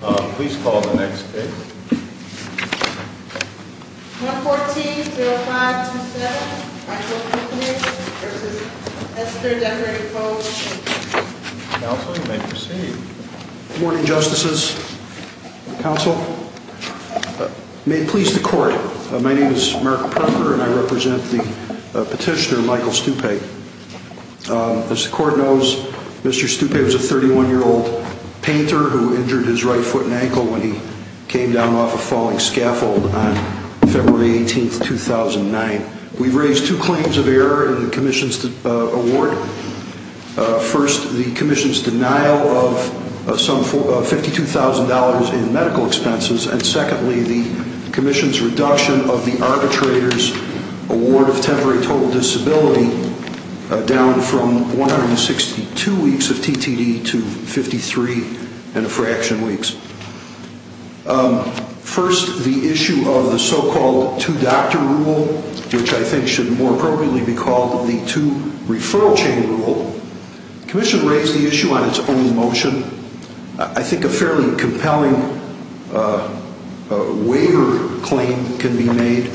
Please call the next case. 114-0527 Michael Stupay v. Esther Decker & Co. Counsel, you may proceed. Good morning, Justices. Counsel. May it please the Court, my name is Mark Parker and I represent the petitioner, Michael Stupay. As the Court knows, Mr. Stupay was a 31-year-old painter who injured his right foot and ankle when he came down off a falling scaffold on February 18, 2009. We've raised two claims of error in the Commission's award. First, the Commission's denial of $52,000 in medical expenses. And secondly, the Commission's reduction of the arbitrator's award of temporary total disability down from 162 weeks of TTD to 53 and a fraction weeks. First, the issue of the so-called two-doctor rule, which I think should more appropriately be called the two-referral chain rule. The Commission raised the issue on its own motion. I think a fairly compelling waiver claim can be made.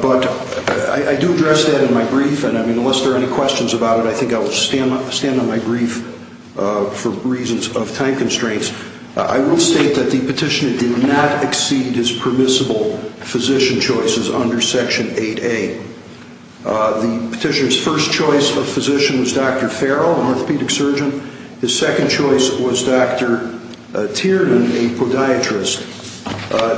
But I do address that in my brief, and unless there are any questions about it, I think I will stand on my brief for reasons of time constraints. I will state that the petitioner did not exceed his permissible physician choices under Section 8A. The petitioner's first choice of physician was Dr. Farrell, an orthopedic surgeon. His second choice was Dr. Tierman, a podiatrist.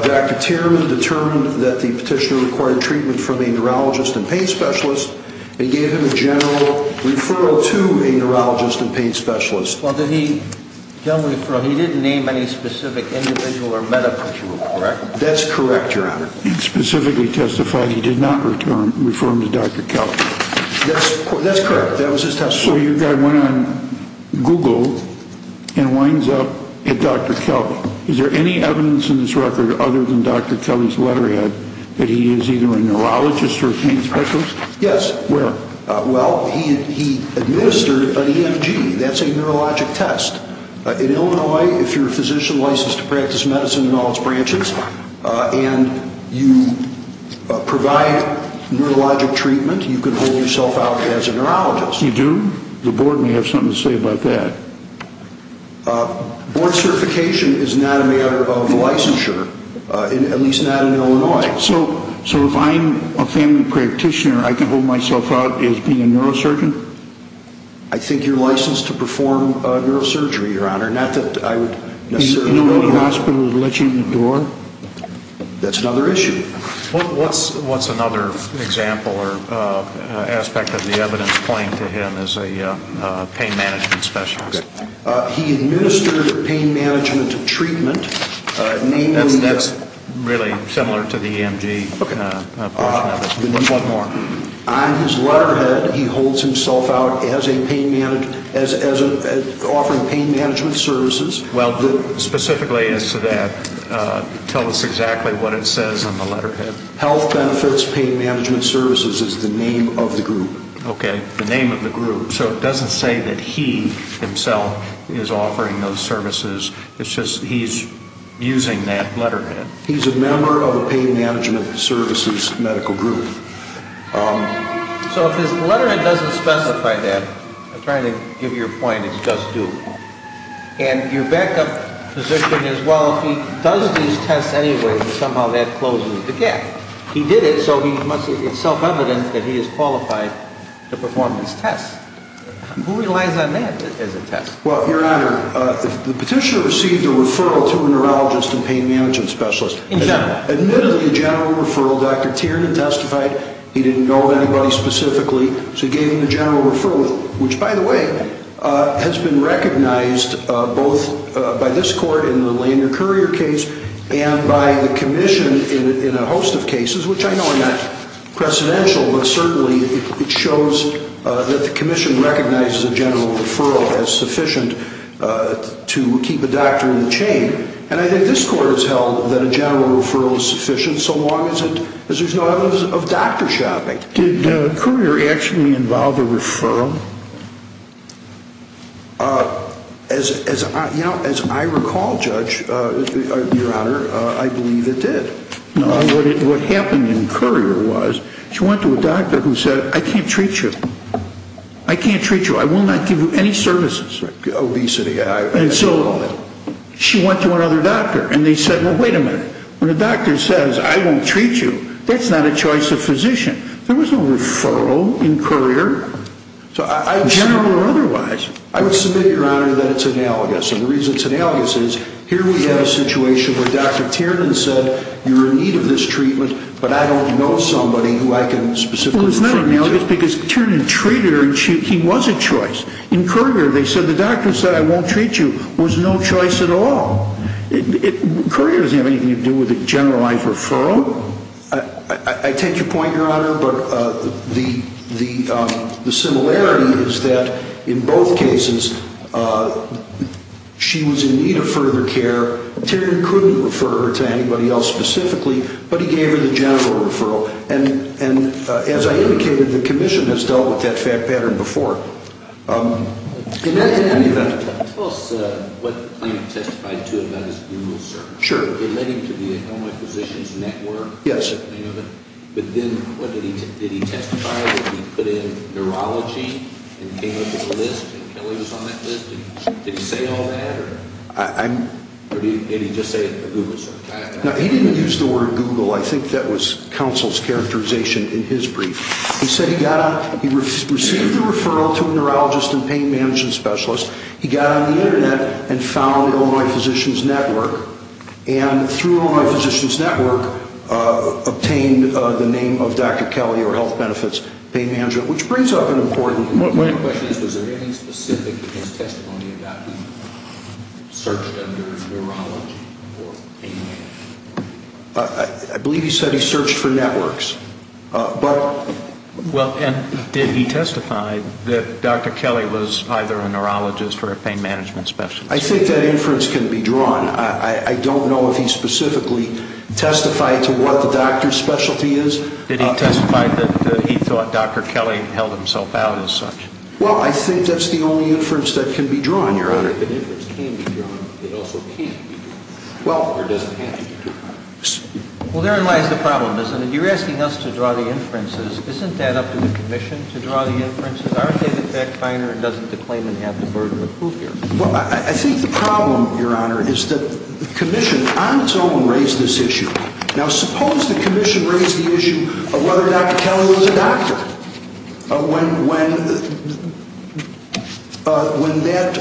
Dr. Tierman determined that the petitioner required treatment from a neurologist and pain specialist, and gave him a general referral to a neurologist and pain specialist. Well, did he give a referral? He didn't name any specific individual or medical treatment, correct? That's correct, Your Honor. He specifically testified that he did not refer him to Dr. Kelley. That's correct. That was his testimony. So your guy went on Google and winds up at Dr. Kelley. Is there any evidence in this record other than Dr. Kelley's letterhead that he is either a neurologist or a pain specialist? Yes. Where? Well, he administered an EMG. That's a neurologic test. In Illinois, if you're a physician licensed to practice medicine in all its branches and you provide neurologic treatment, you can hold yourself out as a neurologist. You do? The Board may have something to say about that. Board certification is not a matter of licensure, at least not in Illinois. So if I'm a family practitioner, I can hold myself out as being a neurosurgeon? I think you're licensed to perform neurosurgery, Your Honor, not that I would necessarily hold you. Do you know of any hospital that would let you in the door? That's another issue. What's another example or aspect of the evidence pointing to him as a pain management specialist? He administered pain management treatment. That's really similar to the EMG portion of it. On his letterhead, he holds himself out as offering pain management services. Well, specifically as to that, tell us exactly what it says on the letterhead. Health Benefits Pain Management Services is the name of the group. Okay, the name of the group. So it doesn't say that he himself is offering those services. It's just he's using that letterhead. He's a member of the pain management services medical group. So if his letterhead doesn't specify that, I'm trying to give you a point, it does do. And your backup physician as well, if he does these tests anyway, somehow that closes the gap. He did it, so it's self-evident that he is qualified to perform these tests. Who relies on that as a test? Well, Your Honor, the petitioner received a referral to a neurologist and pain management specialist. Admittedly, the general referral, Dr. Tiernan testified he didn't know of anybody specifically, so he gave him the general referral, which, by the way, has been recognized both by this court in the Lander-Courier case and by the commission in a host of cases, which I know are not precedential, but certainly it shows that the commission recognizes a general referral as sufficient to keep a doctor in the chain. And I think this court has held that a general referral is sufficient so long as there's no evidence of doctor shopping. Did Courier actually involve a referral? As I recall, Judge, Your Honor, I believe it did. What happened in Courier was she went to a doctor who said, I can't treat you. I can't treat you. I will not give you any services. Obesity. And so she went to another doctor, and they said, well, wait a minute. When a doctor says, I won't treat you, that's not a choice of physician. There was no referral in Courier, general or otherwise. I would submit, Your Honor, that it's analogous. And the reason it's analogous is here we have a situation where Dr. Tiernan said, you're in need of this treatment, but I don't know somebody who I can specifically refer you to. Well, it's not analogous because Tiernan treated her, and he was a choice. In Courier, they said the doctor said, I won't treat you, was no choice at all. Courier doesn't have anything to do with a generalized referral. I take your point, Your Honor. But the similarity is that in both cases she was in need of further care. Tiernan couldn't refer her to anybody else specifically, but he gave her the general referral. And as I indicated, the commission has dealt with that fact pattern before. In any event. Tell us what you testified to about this blue rule, sir. Sure. It led him to the Illinois Physicians Network. Yes. But then did he testify that he put in neurology and came up with a list, and Kelly was on that list? Did he say all that, or did he just say it at Google? No, he didn't use the word Google. I think that was counsel's characterization in his brief. He said he received a referral to a neurologist and pain management specialist. He got on the Internet and found the Illinois Physicians Network. And through Illinois Physicians Network, obtained the name of Dr. Kelly or health benefits, pain management, which brings up an important point. My question is, was there anything specific in his testimony about he searched under neurology or pain management? I believe he said he searched for networks. Well, and did he testify that Dr. Kelly was either a neurologist or a pain management specialist? I think that inference can be drawn. I don't know if he specifically testified to what the doctor's specialty is. Did he testify that he thought Dr. Kelly held himself out as such? Well, I think that's the only inference that can be drawn, Your Honor. I think an inference can be drawn, but it also can't be drawn, or doesn't have to be drawn. Well, therein lies the problem, isn't it? You're asking us to draw the inferences. Isn't that up to the commission to draw the inferences? Aren't they the fact finder and doesn't the claimant have the burden of proof here? Well, I think the problem, Your Honor, is that the commission on its own raised this issue. Now, suppose the commission raised the issue of whether Dr. Kelly was a doctor when that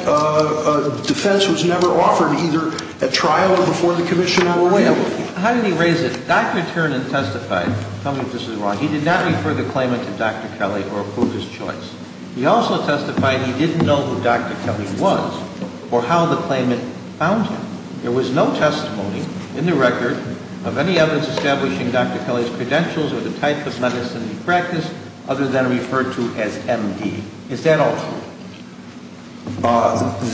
defense was never offered, either at trial or before the commission or wherever. How did he raise it? Dr. Turner testified. Tell me if this is wrong. He did not refer the claimant to Dr. Kelly or prove his choice. He also testified he didn't know who Dr. Kelly was or how the claimant found him. There was no testimony in the record of any evidence establishing Dr. Kelly's credentials or the type of medicine he practiced, other than referred to as M.D. Is that all true?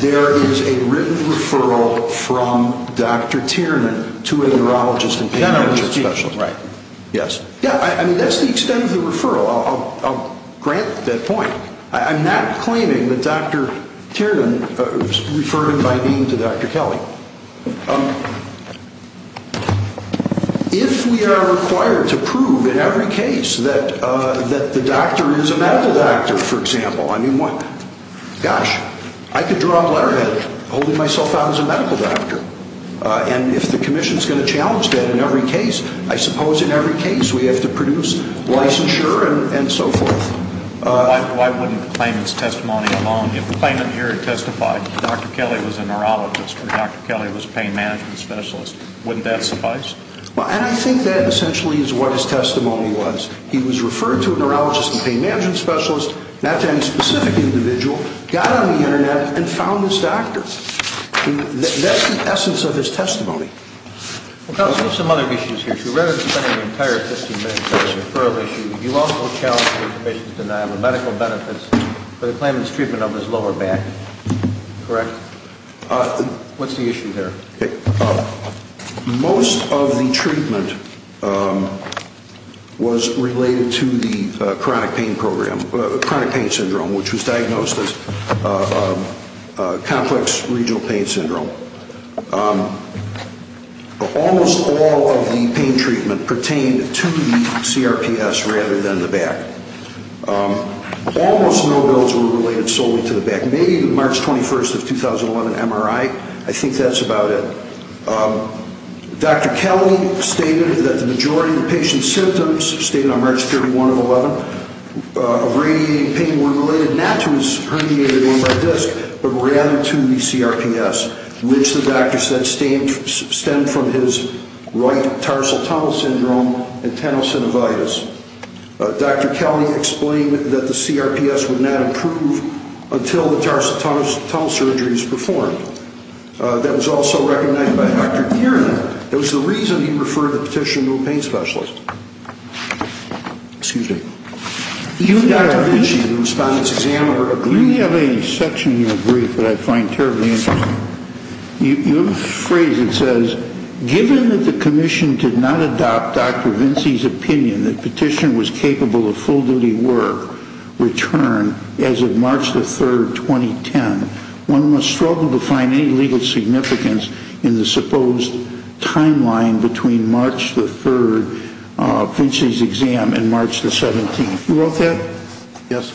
There is a written referral from Dr. Tiernan to a neurologist and pediatric specialist. Generally speaking, right. Yes. Yeah, I mean, that's the extent of the referral. I'll grant that point. I'm not claiming that Dr. Tiernan referred him by name to Dr. Kelly. If we are required to prove in every case that the doctor is a medical doctor, for example, I mean, what? Gosh, I could draw a letterhead holding myself out as a medical doctor. And if the commission is going to challenge that in every case, I suppose in every case we have to produce licensure and so forth. Why wouldn't the claimant's testimony alone? If the claimant here testified Dr. Kelly was a neurologist or Dr. Kelly was a pain management specialist, wouldn't that suffice? And I think that essentially is what his testimony was. He was referred to a neurologist and pain management specialist, not to any specific individual, got on the Internet and found this doctor. That's the essence of his testimony. Well, Counsel, I have some other issues here. So rather than spending an entire 15 minutes on a referral issue, you also challenged the patient's denial of medical benefits for the claimant's treatment of his lower back. Correct? What's the issue there? Most of the treatment was related to the chronic pain syndrome, which was diagnosed as complex regional pain syndrome. Almost all of the pain treatment pertained to the CRPS rather than the back. Almost no of those were related solely to the back. I made March 21st of 2011 MRI. I think that's about it. Dr. Kelly stated that the majority of the patient's symptoms, stated on March 31st of 2011, of radiating pain were related not to his herniated lumbar disc, but rather to the CRPS, which the doctor said stemmed from his right tarsal tunnel syndrome and tenosynovitis. Dr. Kelly explained that the CRPS would not improve until the tarsal tunnel surgery was performed. That was also recommended by Dr. Geeran. That was the reason he referred the petition to a pain specialist. Excuse me. You and Dr. Vinci, the Respondent's Examiner, agreed... You have a section in your brief that I find terribly interesting. You have a phrase that says, Given that the Commission did not adopt Dr. Vinci's opinion that petition was capable of full-duty work return as of March 3rd, 2010, one must struggle to find any legal significance in the supposed timeline between March 3rd, Vinci's exam, and March 17th. You wrote that? Yes.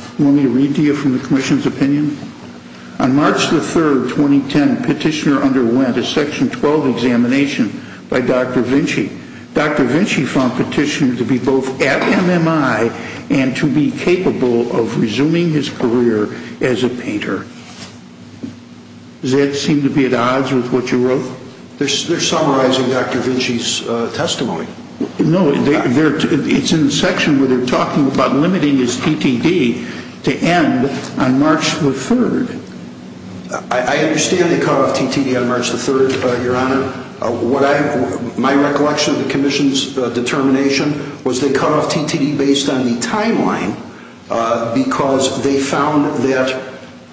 On March 3rd, 2010, Petitioner underwent a Section 12 examination by Dr. Vinci. Dr. Vinci found Petitioner to be both at MMI and to be capable of resuming his career as a painter. Does that seem to be at odds with what you wrote? They're summarizing Dr. Vinci's testimony. No, it's in the section where they're talking about limiting his TTD to end on March 3rd. I understand they cut off TTD on March 3rd, Your Honor. My recollection of the Commission's determination was they cut off TTD based on the timeline because they found that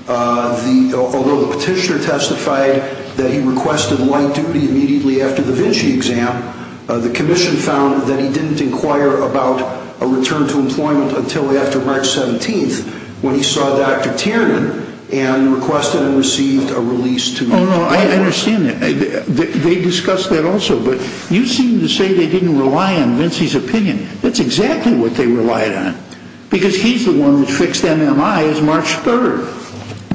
although the Petitioner testified that he requested light duty immediately after the Vinci exam, the Commission found that he didn't inquire about a return to employment until after March 17th when he saw Dr. Tiernan and requested and received a release to retire. I understand that. They discussed that also. But you seem to say they didn't rely on Vinci's opinion. That's exactly what they relied on because he's the one who fixed MMI on March 3rd.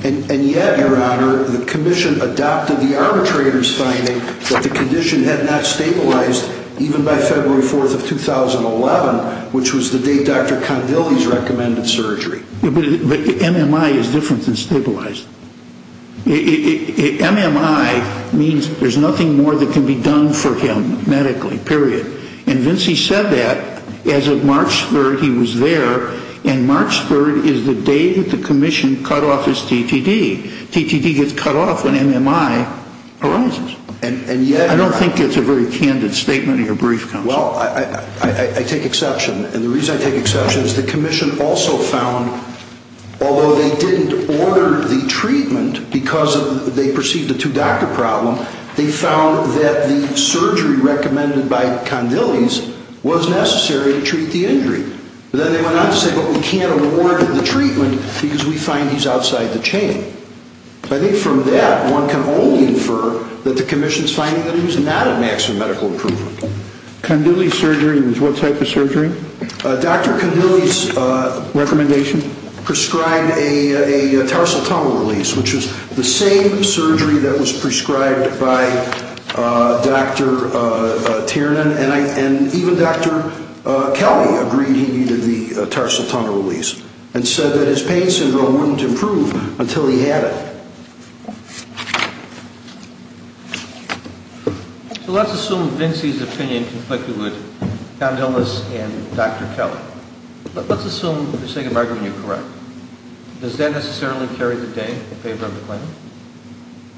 And yet, Your Honor, the Commission adopted the arbitrator's finding that the condition had not stabilized even by February 4th of 2011, which was the day Dr. Condilli's recommended surgery. But MMI is different than stabilized. MMI means there's nothing more that can be done for him medically, period. And Vinci said that as of March 3rd he was there, and March 3rd is the day that the Commission cut off his TTD. TTD gets cut off when MMI arises. I don't think that's a very candid statement in your brief, Counsel. Well, I take exception. And the reason I take exception is the Commission also found, although they didn't order the treatment because they perceived a two-doctor problem, they found that the surgery recommended by Condilli's was necessary to treat the injury. Then they went on to say, but we can't award him the treatment because we find he's outside the chain. I think from that, one can only infer that the Commission's finding that he's not at maximum medical improvement. Condilli's surgery was what type of surgery? Dr. Condilli's recommendation prescribed a tarsal tunnel release, which was the same surgery that was prescribed by Dr. Tiernan. And even Dr. Kelly agreed he needed the tarsal tunnel release and said that his pain syndrome wouldn't improve until he had it. So let's assume Vinci's opinion conflicted with Condilli's and Dr. Kelly. Let's assume, for the sake of argument, you're correct. Does that necessarily carry the day in favor of the claim?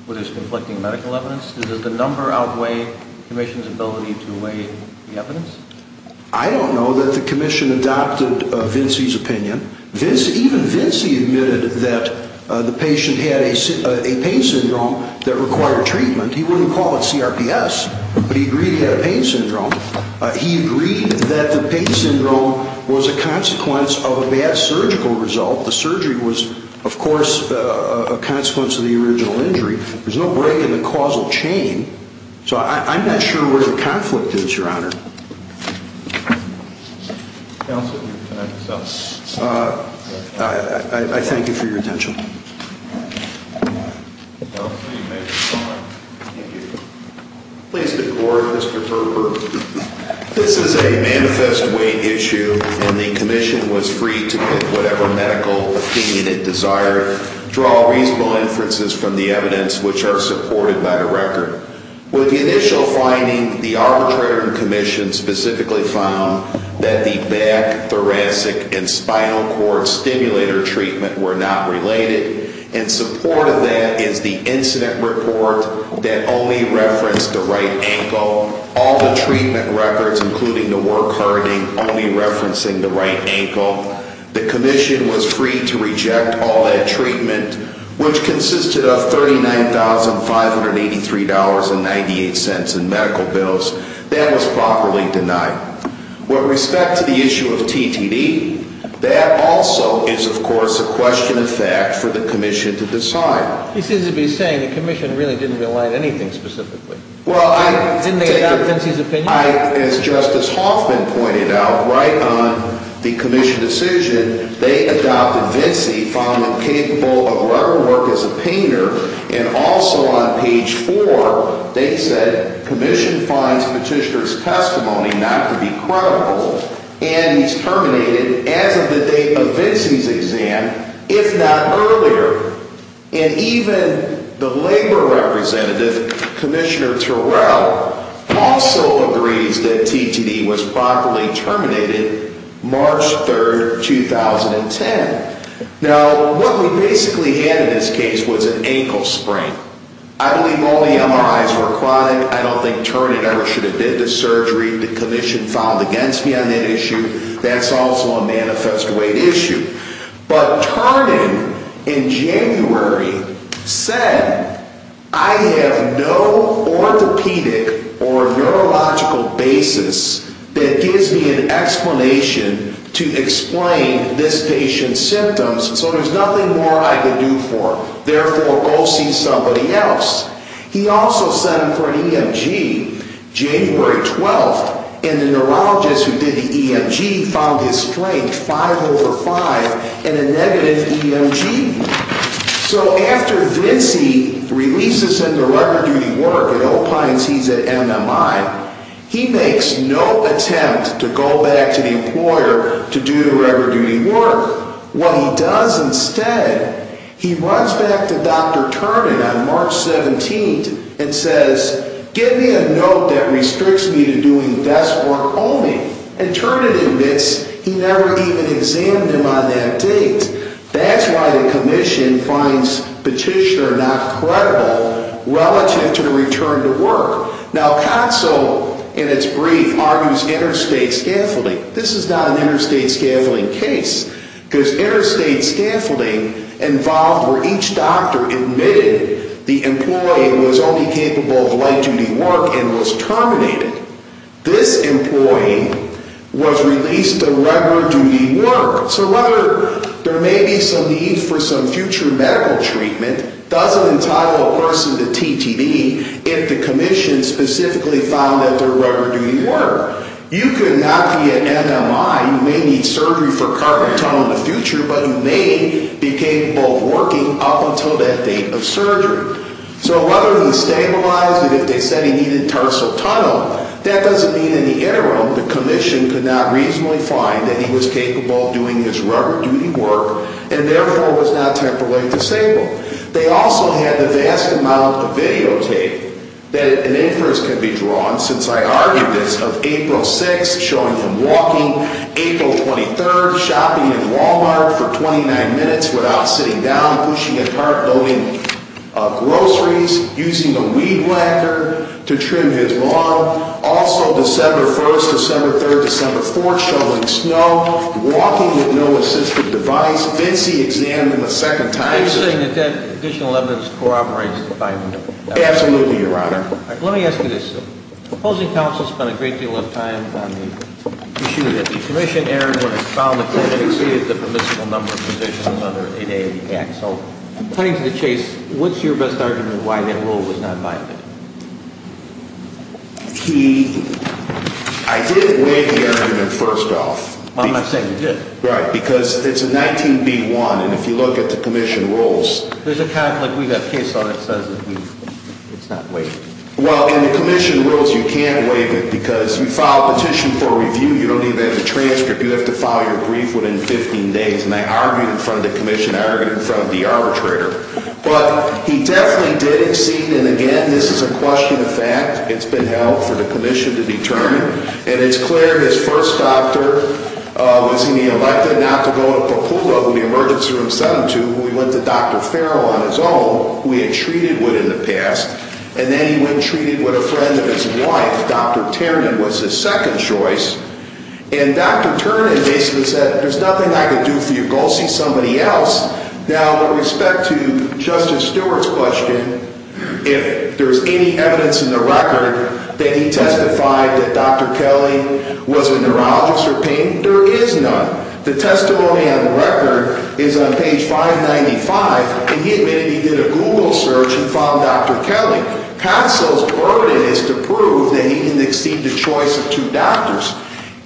With his conflicting medical evidence? Does the number outweigh the Commission's ability to weigh the evidence? I don't know that the Commission adopted Vinci's opinion. Even Vinci admitted that the patient had a pain syndrome that required treatment. He wouldn't call it CRPS, but he agreed he had a pain syndrome. He agreed that the pain syndrome was a consequence of a bad surgical result. The surgery was, of course, a consequence of the original injury. There's no break in the causal chain. So I'm not sure where the conflict is, Your Honor. Counsel, you can connect yourself. I thank you for your attention. Counsel, you may resign. Thank you. Please, the Court, Mr. Berber. This is a manifest weight issue, and the Commission was free to pick whatever medical opinion it desired, draw reasonable inferences from the evidence, which are supported by the record. With the initial finding, the arbitrator and Commission specifically found that the back, thoracic, and spinal cord stimulator treatment were not related. In support of that is the incident report that only referenced the right ankle. All the treatment records, including the work hardening, only referencing the right ankle. The Commission was free to reject all that treatment, which consisted of $39,583.98 in medical bills. That was properly denied. With respect to the issue of TTD, that also is, of course, a question of fact for the Commission to decide. He seems to be saying the Commission really didn't rely on anything specifically. Didn't they adopt Vinci's opinion? As Justice Hoffman pointed out, right on the Commission decision, they adopted Vinci, found him capable of level work as a painter, and also on page 4, they said, Commission finds Petitioner's testimony not to be credible, and he's terminated as of the date of Vinci's exam, if not earlier. And even the labor representative, Commissioner Terrell, also agrees that TTD was properly terminated March 3, 2010. Now, what we basically had in this case was an ankle sprain. I believe all the MRIs were chronic. I don't think Turnin ever should have been to surgery. The Commission filed against me on that issue. That's also a manifest weight issue. But Turnin in January said, I have no orthopedic or neurological basis that gives me an explanation to explain this patient's symptoms, so there's nothing more I can do for him. Therefore, go see somebody else. He also sent him for an EMG January 12, and the neurologist who did the EMG found his strength 5 over 5 in a negative EMG. So after Vinci releases him to regular duty work at Opines, he's at MMI, he makes no attempt to go back to the employer to do regular duty work. What he does instead, he runs back to Dr. Turnin on March 17, and says, give me a note that restricts me to doing desk work only. And Turnin admits he never even examined him on that date. That's why the Commission finds petitioner not credible relative to the return to work. Now, CONSO in its brief argues interstate scaffolding. This is not an interstate scaffolding case, because interstate scaffolding involved where each doctor admitted the employee was only capable of light duty work and was terminated. This employee was released to regular duty work. So whether there may be some need for some future medical treatment doesn't entitle a person to TTV if the Commission specifically found that they're regular duty work. You could not be at MMI, you may need surgery for carpal tunnel in the future, but you may be capable of working up until that date of surgery. So whether he's stabilized and if they said he needed tarsal tunnel, that doesn't mean in the interim the Commission could not reasonably find that he was capable of doing his regular duty work and therefore was not temporarily disabled. They also had the vast amount of videotape that an inference can be drawn, since I argued this, of April 6, showing him walking, April 23, shopping in Walmart for 29 minutes without sitting down, pushing a cart, loading groceries, using a weed whacker to trim his lawn. Also, December 1, December 3, December 4, showing snow, walking with no assistive device, fancy exam in the second time system. You're saying that that additional evidence corroborates the five minutes? Absolutely, Your Honor. Let me ask you this. The opposing counsel spent a great deal of time on the issue that the Commission erred when it found a court that exceeded the permissible number of positions under 8A of the Act. So cutting to the chase, what's your best argument why that rule was not binded? I didn't weigh the argument first off. Well, I'm not saying you didn't. Right, because it's a 19B1, and if you look at the Commission rules... There's a comment, like we've got a case on it that says it's not weighted. Well, in the Commission rules, you can't weigh it because you file a petition for review. You don't even have the transcript. You have to file your brief within 15 days. And I argued in front of the Commission. I argued in front of the arbitrator. But he definitely did exceed. And again, this is a question of fact. It's been held for the Commission to determine. And it's clear his first doctor was he elected not to go to Papula, the emergency room 72, when we went to Dr. Farrell on his own, who we had treated with in the past. He went and treated with a friend of his wife. Dr. Ternan was his second choice. And Dr. Ternan basically said, there's nothing I can do for you. Go see somebody else. Now, with respect to Justice Stewart's question, if there's any evidence in the record that he testified that Dr. Kelly was a neurologist for pain, there is none. The testimony on the record is on page 595, and he admitted he did a Google search and found Dr. Kelly. But Russell's burden is to prove that he didn't exceed the choice of two doctors.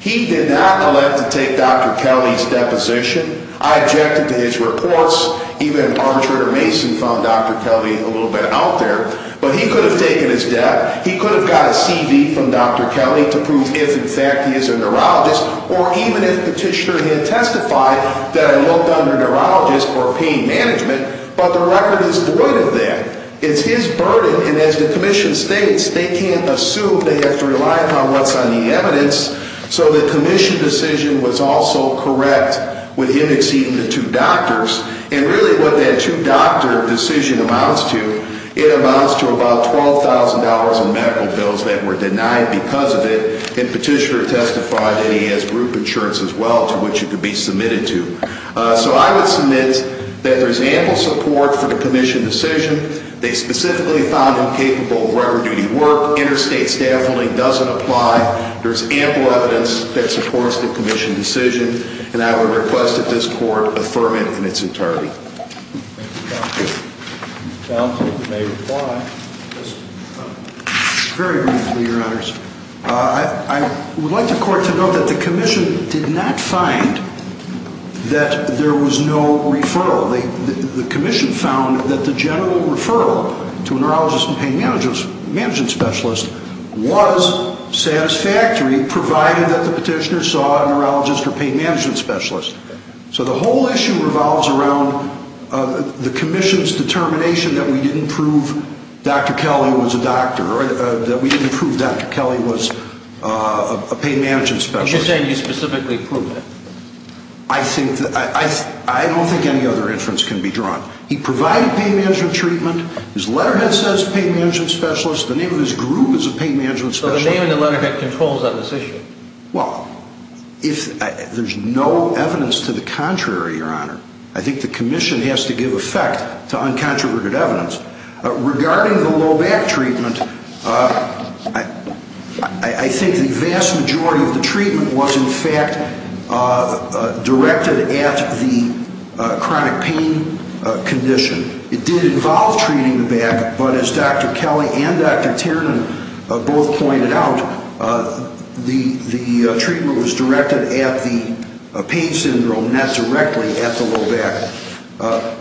He did not elect to take Dr. Kelly's deposition. I objected to his reports. Even arbitrator Mason found Dr. Kelly a little bit out there. But he could have taken his death. He could have got a CV from Dr. Kelly to prove if, in fact, he is a neurologist, or even if Petitioner had testified that I looked under neurologist or pain management. But the record is void of that. It's his burden. In the United States, they can't assume. They have to rely upon what's on the evidence. So the commission decision was also correct with him exceeding the two doctors. And really what that two-doctor decision amounts to, it amounts to about $12,000 in medical bills that were denied because of it, and Petitioner testified that he has group insurance as well, to which he could be submitted to. So I would submit that there's ample support for the commission decision. They specifically found him capable of record-duty work. Interstate staffing doesn't apply. There's ample evidence that supports the commission decision. And I would request that this court affirm it in its entirety. Thank you, counsel. Counsel may reply. Very briefly, Your Honors. I would like the court to note that the commission did not find that there was no referral. The commission found that the general referral to a neurologist and pain management specialist was satisfactory provided that the petitioner saw a neurologist or pain management specialist. So the whole issue revolves around the commission's determination that we didn't prove Dr. Kelly was a doctor, that we didn't prove Dr. Kelly was a pain management specialist. Are you saying you specifically proved it? I don't think any other inference can be drawn. He provided pain management treatment. His letterhead says pain management specialist. The name of his group is a pain management specialist. So the name in the letterhead controls that decision. Well, there's no evidence to the contrary, Your Honor. I think the commission has to give effect to uncontroverted evidence. Regarding the low back treatment, I think the vast majority of the treatment was in fact directed at the chronic pain condition. It did involve treating the back, but as Dr. Kelly and Dr. Tiernan both pointed out, the treatment was directed at the pain syndrome, not directly at the low back.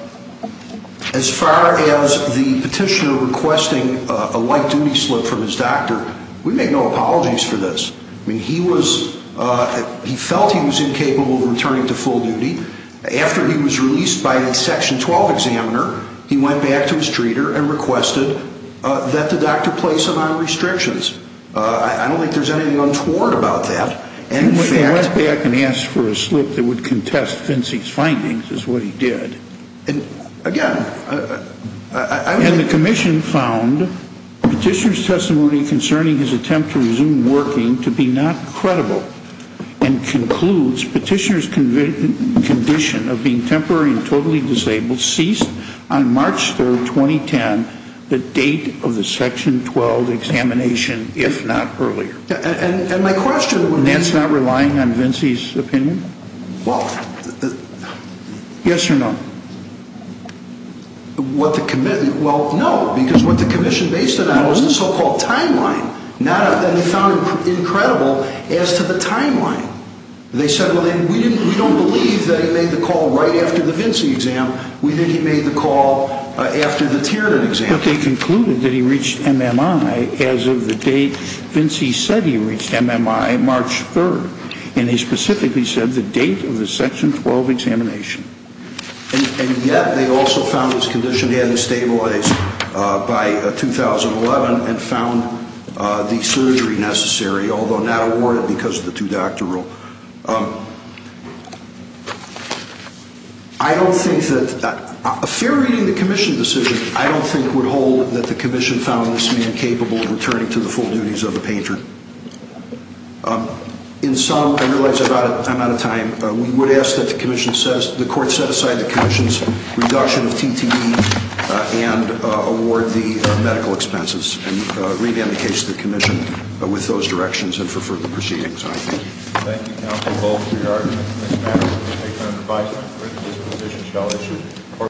As far as the petitioner requesting a light-duty slip from his doctor, we make no apologies for this. He felt he was incapable of returning to full duty. After he was released by the Section 12 examiner, he went back to his treater and requested that the doctor place him on restrictions. I don't think there's anything untoward about that. He went back and asked for a slip that would contest Finsey's findings, is what he did. And the commission found petitioner's testimony concerning his attempt to resume working to be not credible and concludes petitioner's condition of being temporary and totally disabled ceased on March 3, 2010, the date of the Section 12 examination, if not earlier. And my question would be... Nance not relying on Finsey's opinion? Well... Yes or no? Well, no, because what the commission based it on was the so-called timeline. And they found him incredible as to the timeline. They said, well, we don't believe that he made the call right after the Finsey exam. We think he made the call after the Tiernan exam. But they concluded that he reached MMI as of the date Finsey said he reached MMI, March 3rd. And he specifically said the date of the Section 12 examination. And yet they also found his condition hadn't stabilized by 2011 and found the surgery necessary, although not awarded because of the two-doctor rule. I don't think that... A fair reading of the commission decision, I don't think would hold that the commission found this man capable of returning to the full duties of a painter. In sum, I realize I'm out of time. We would ask that the court set aside the commission's reduction of TTE and award the medical expenses and revamp the case to the commission with those directions and for further proceedings. Thank you, counsel. We are adjourned.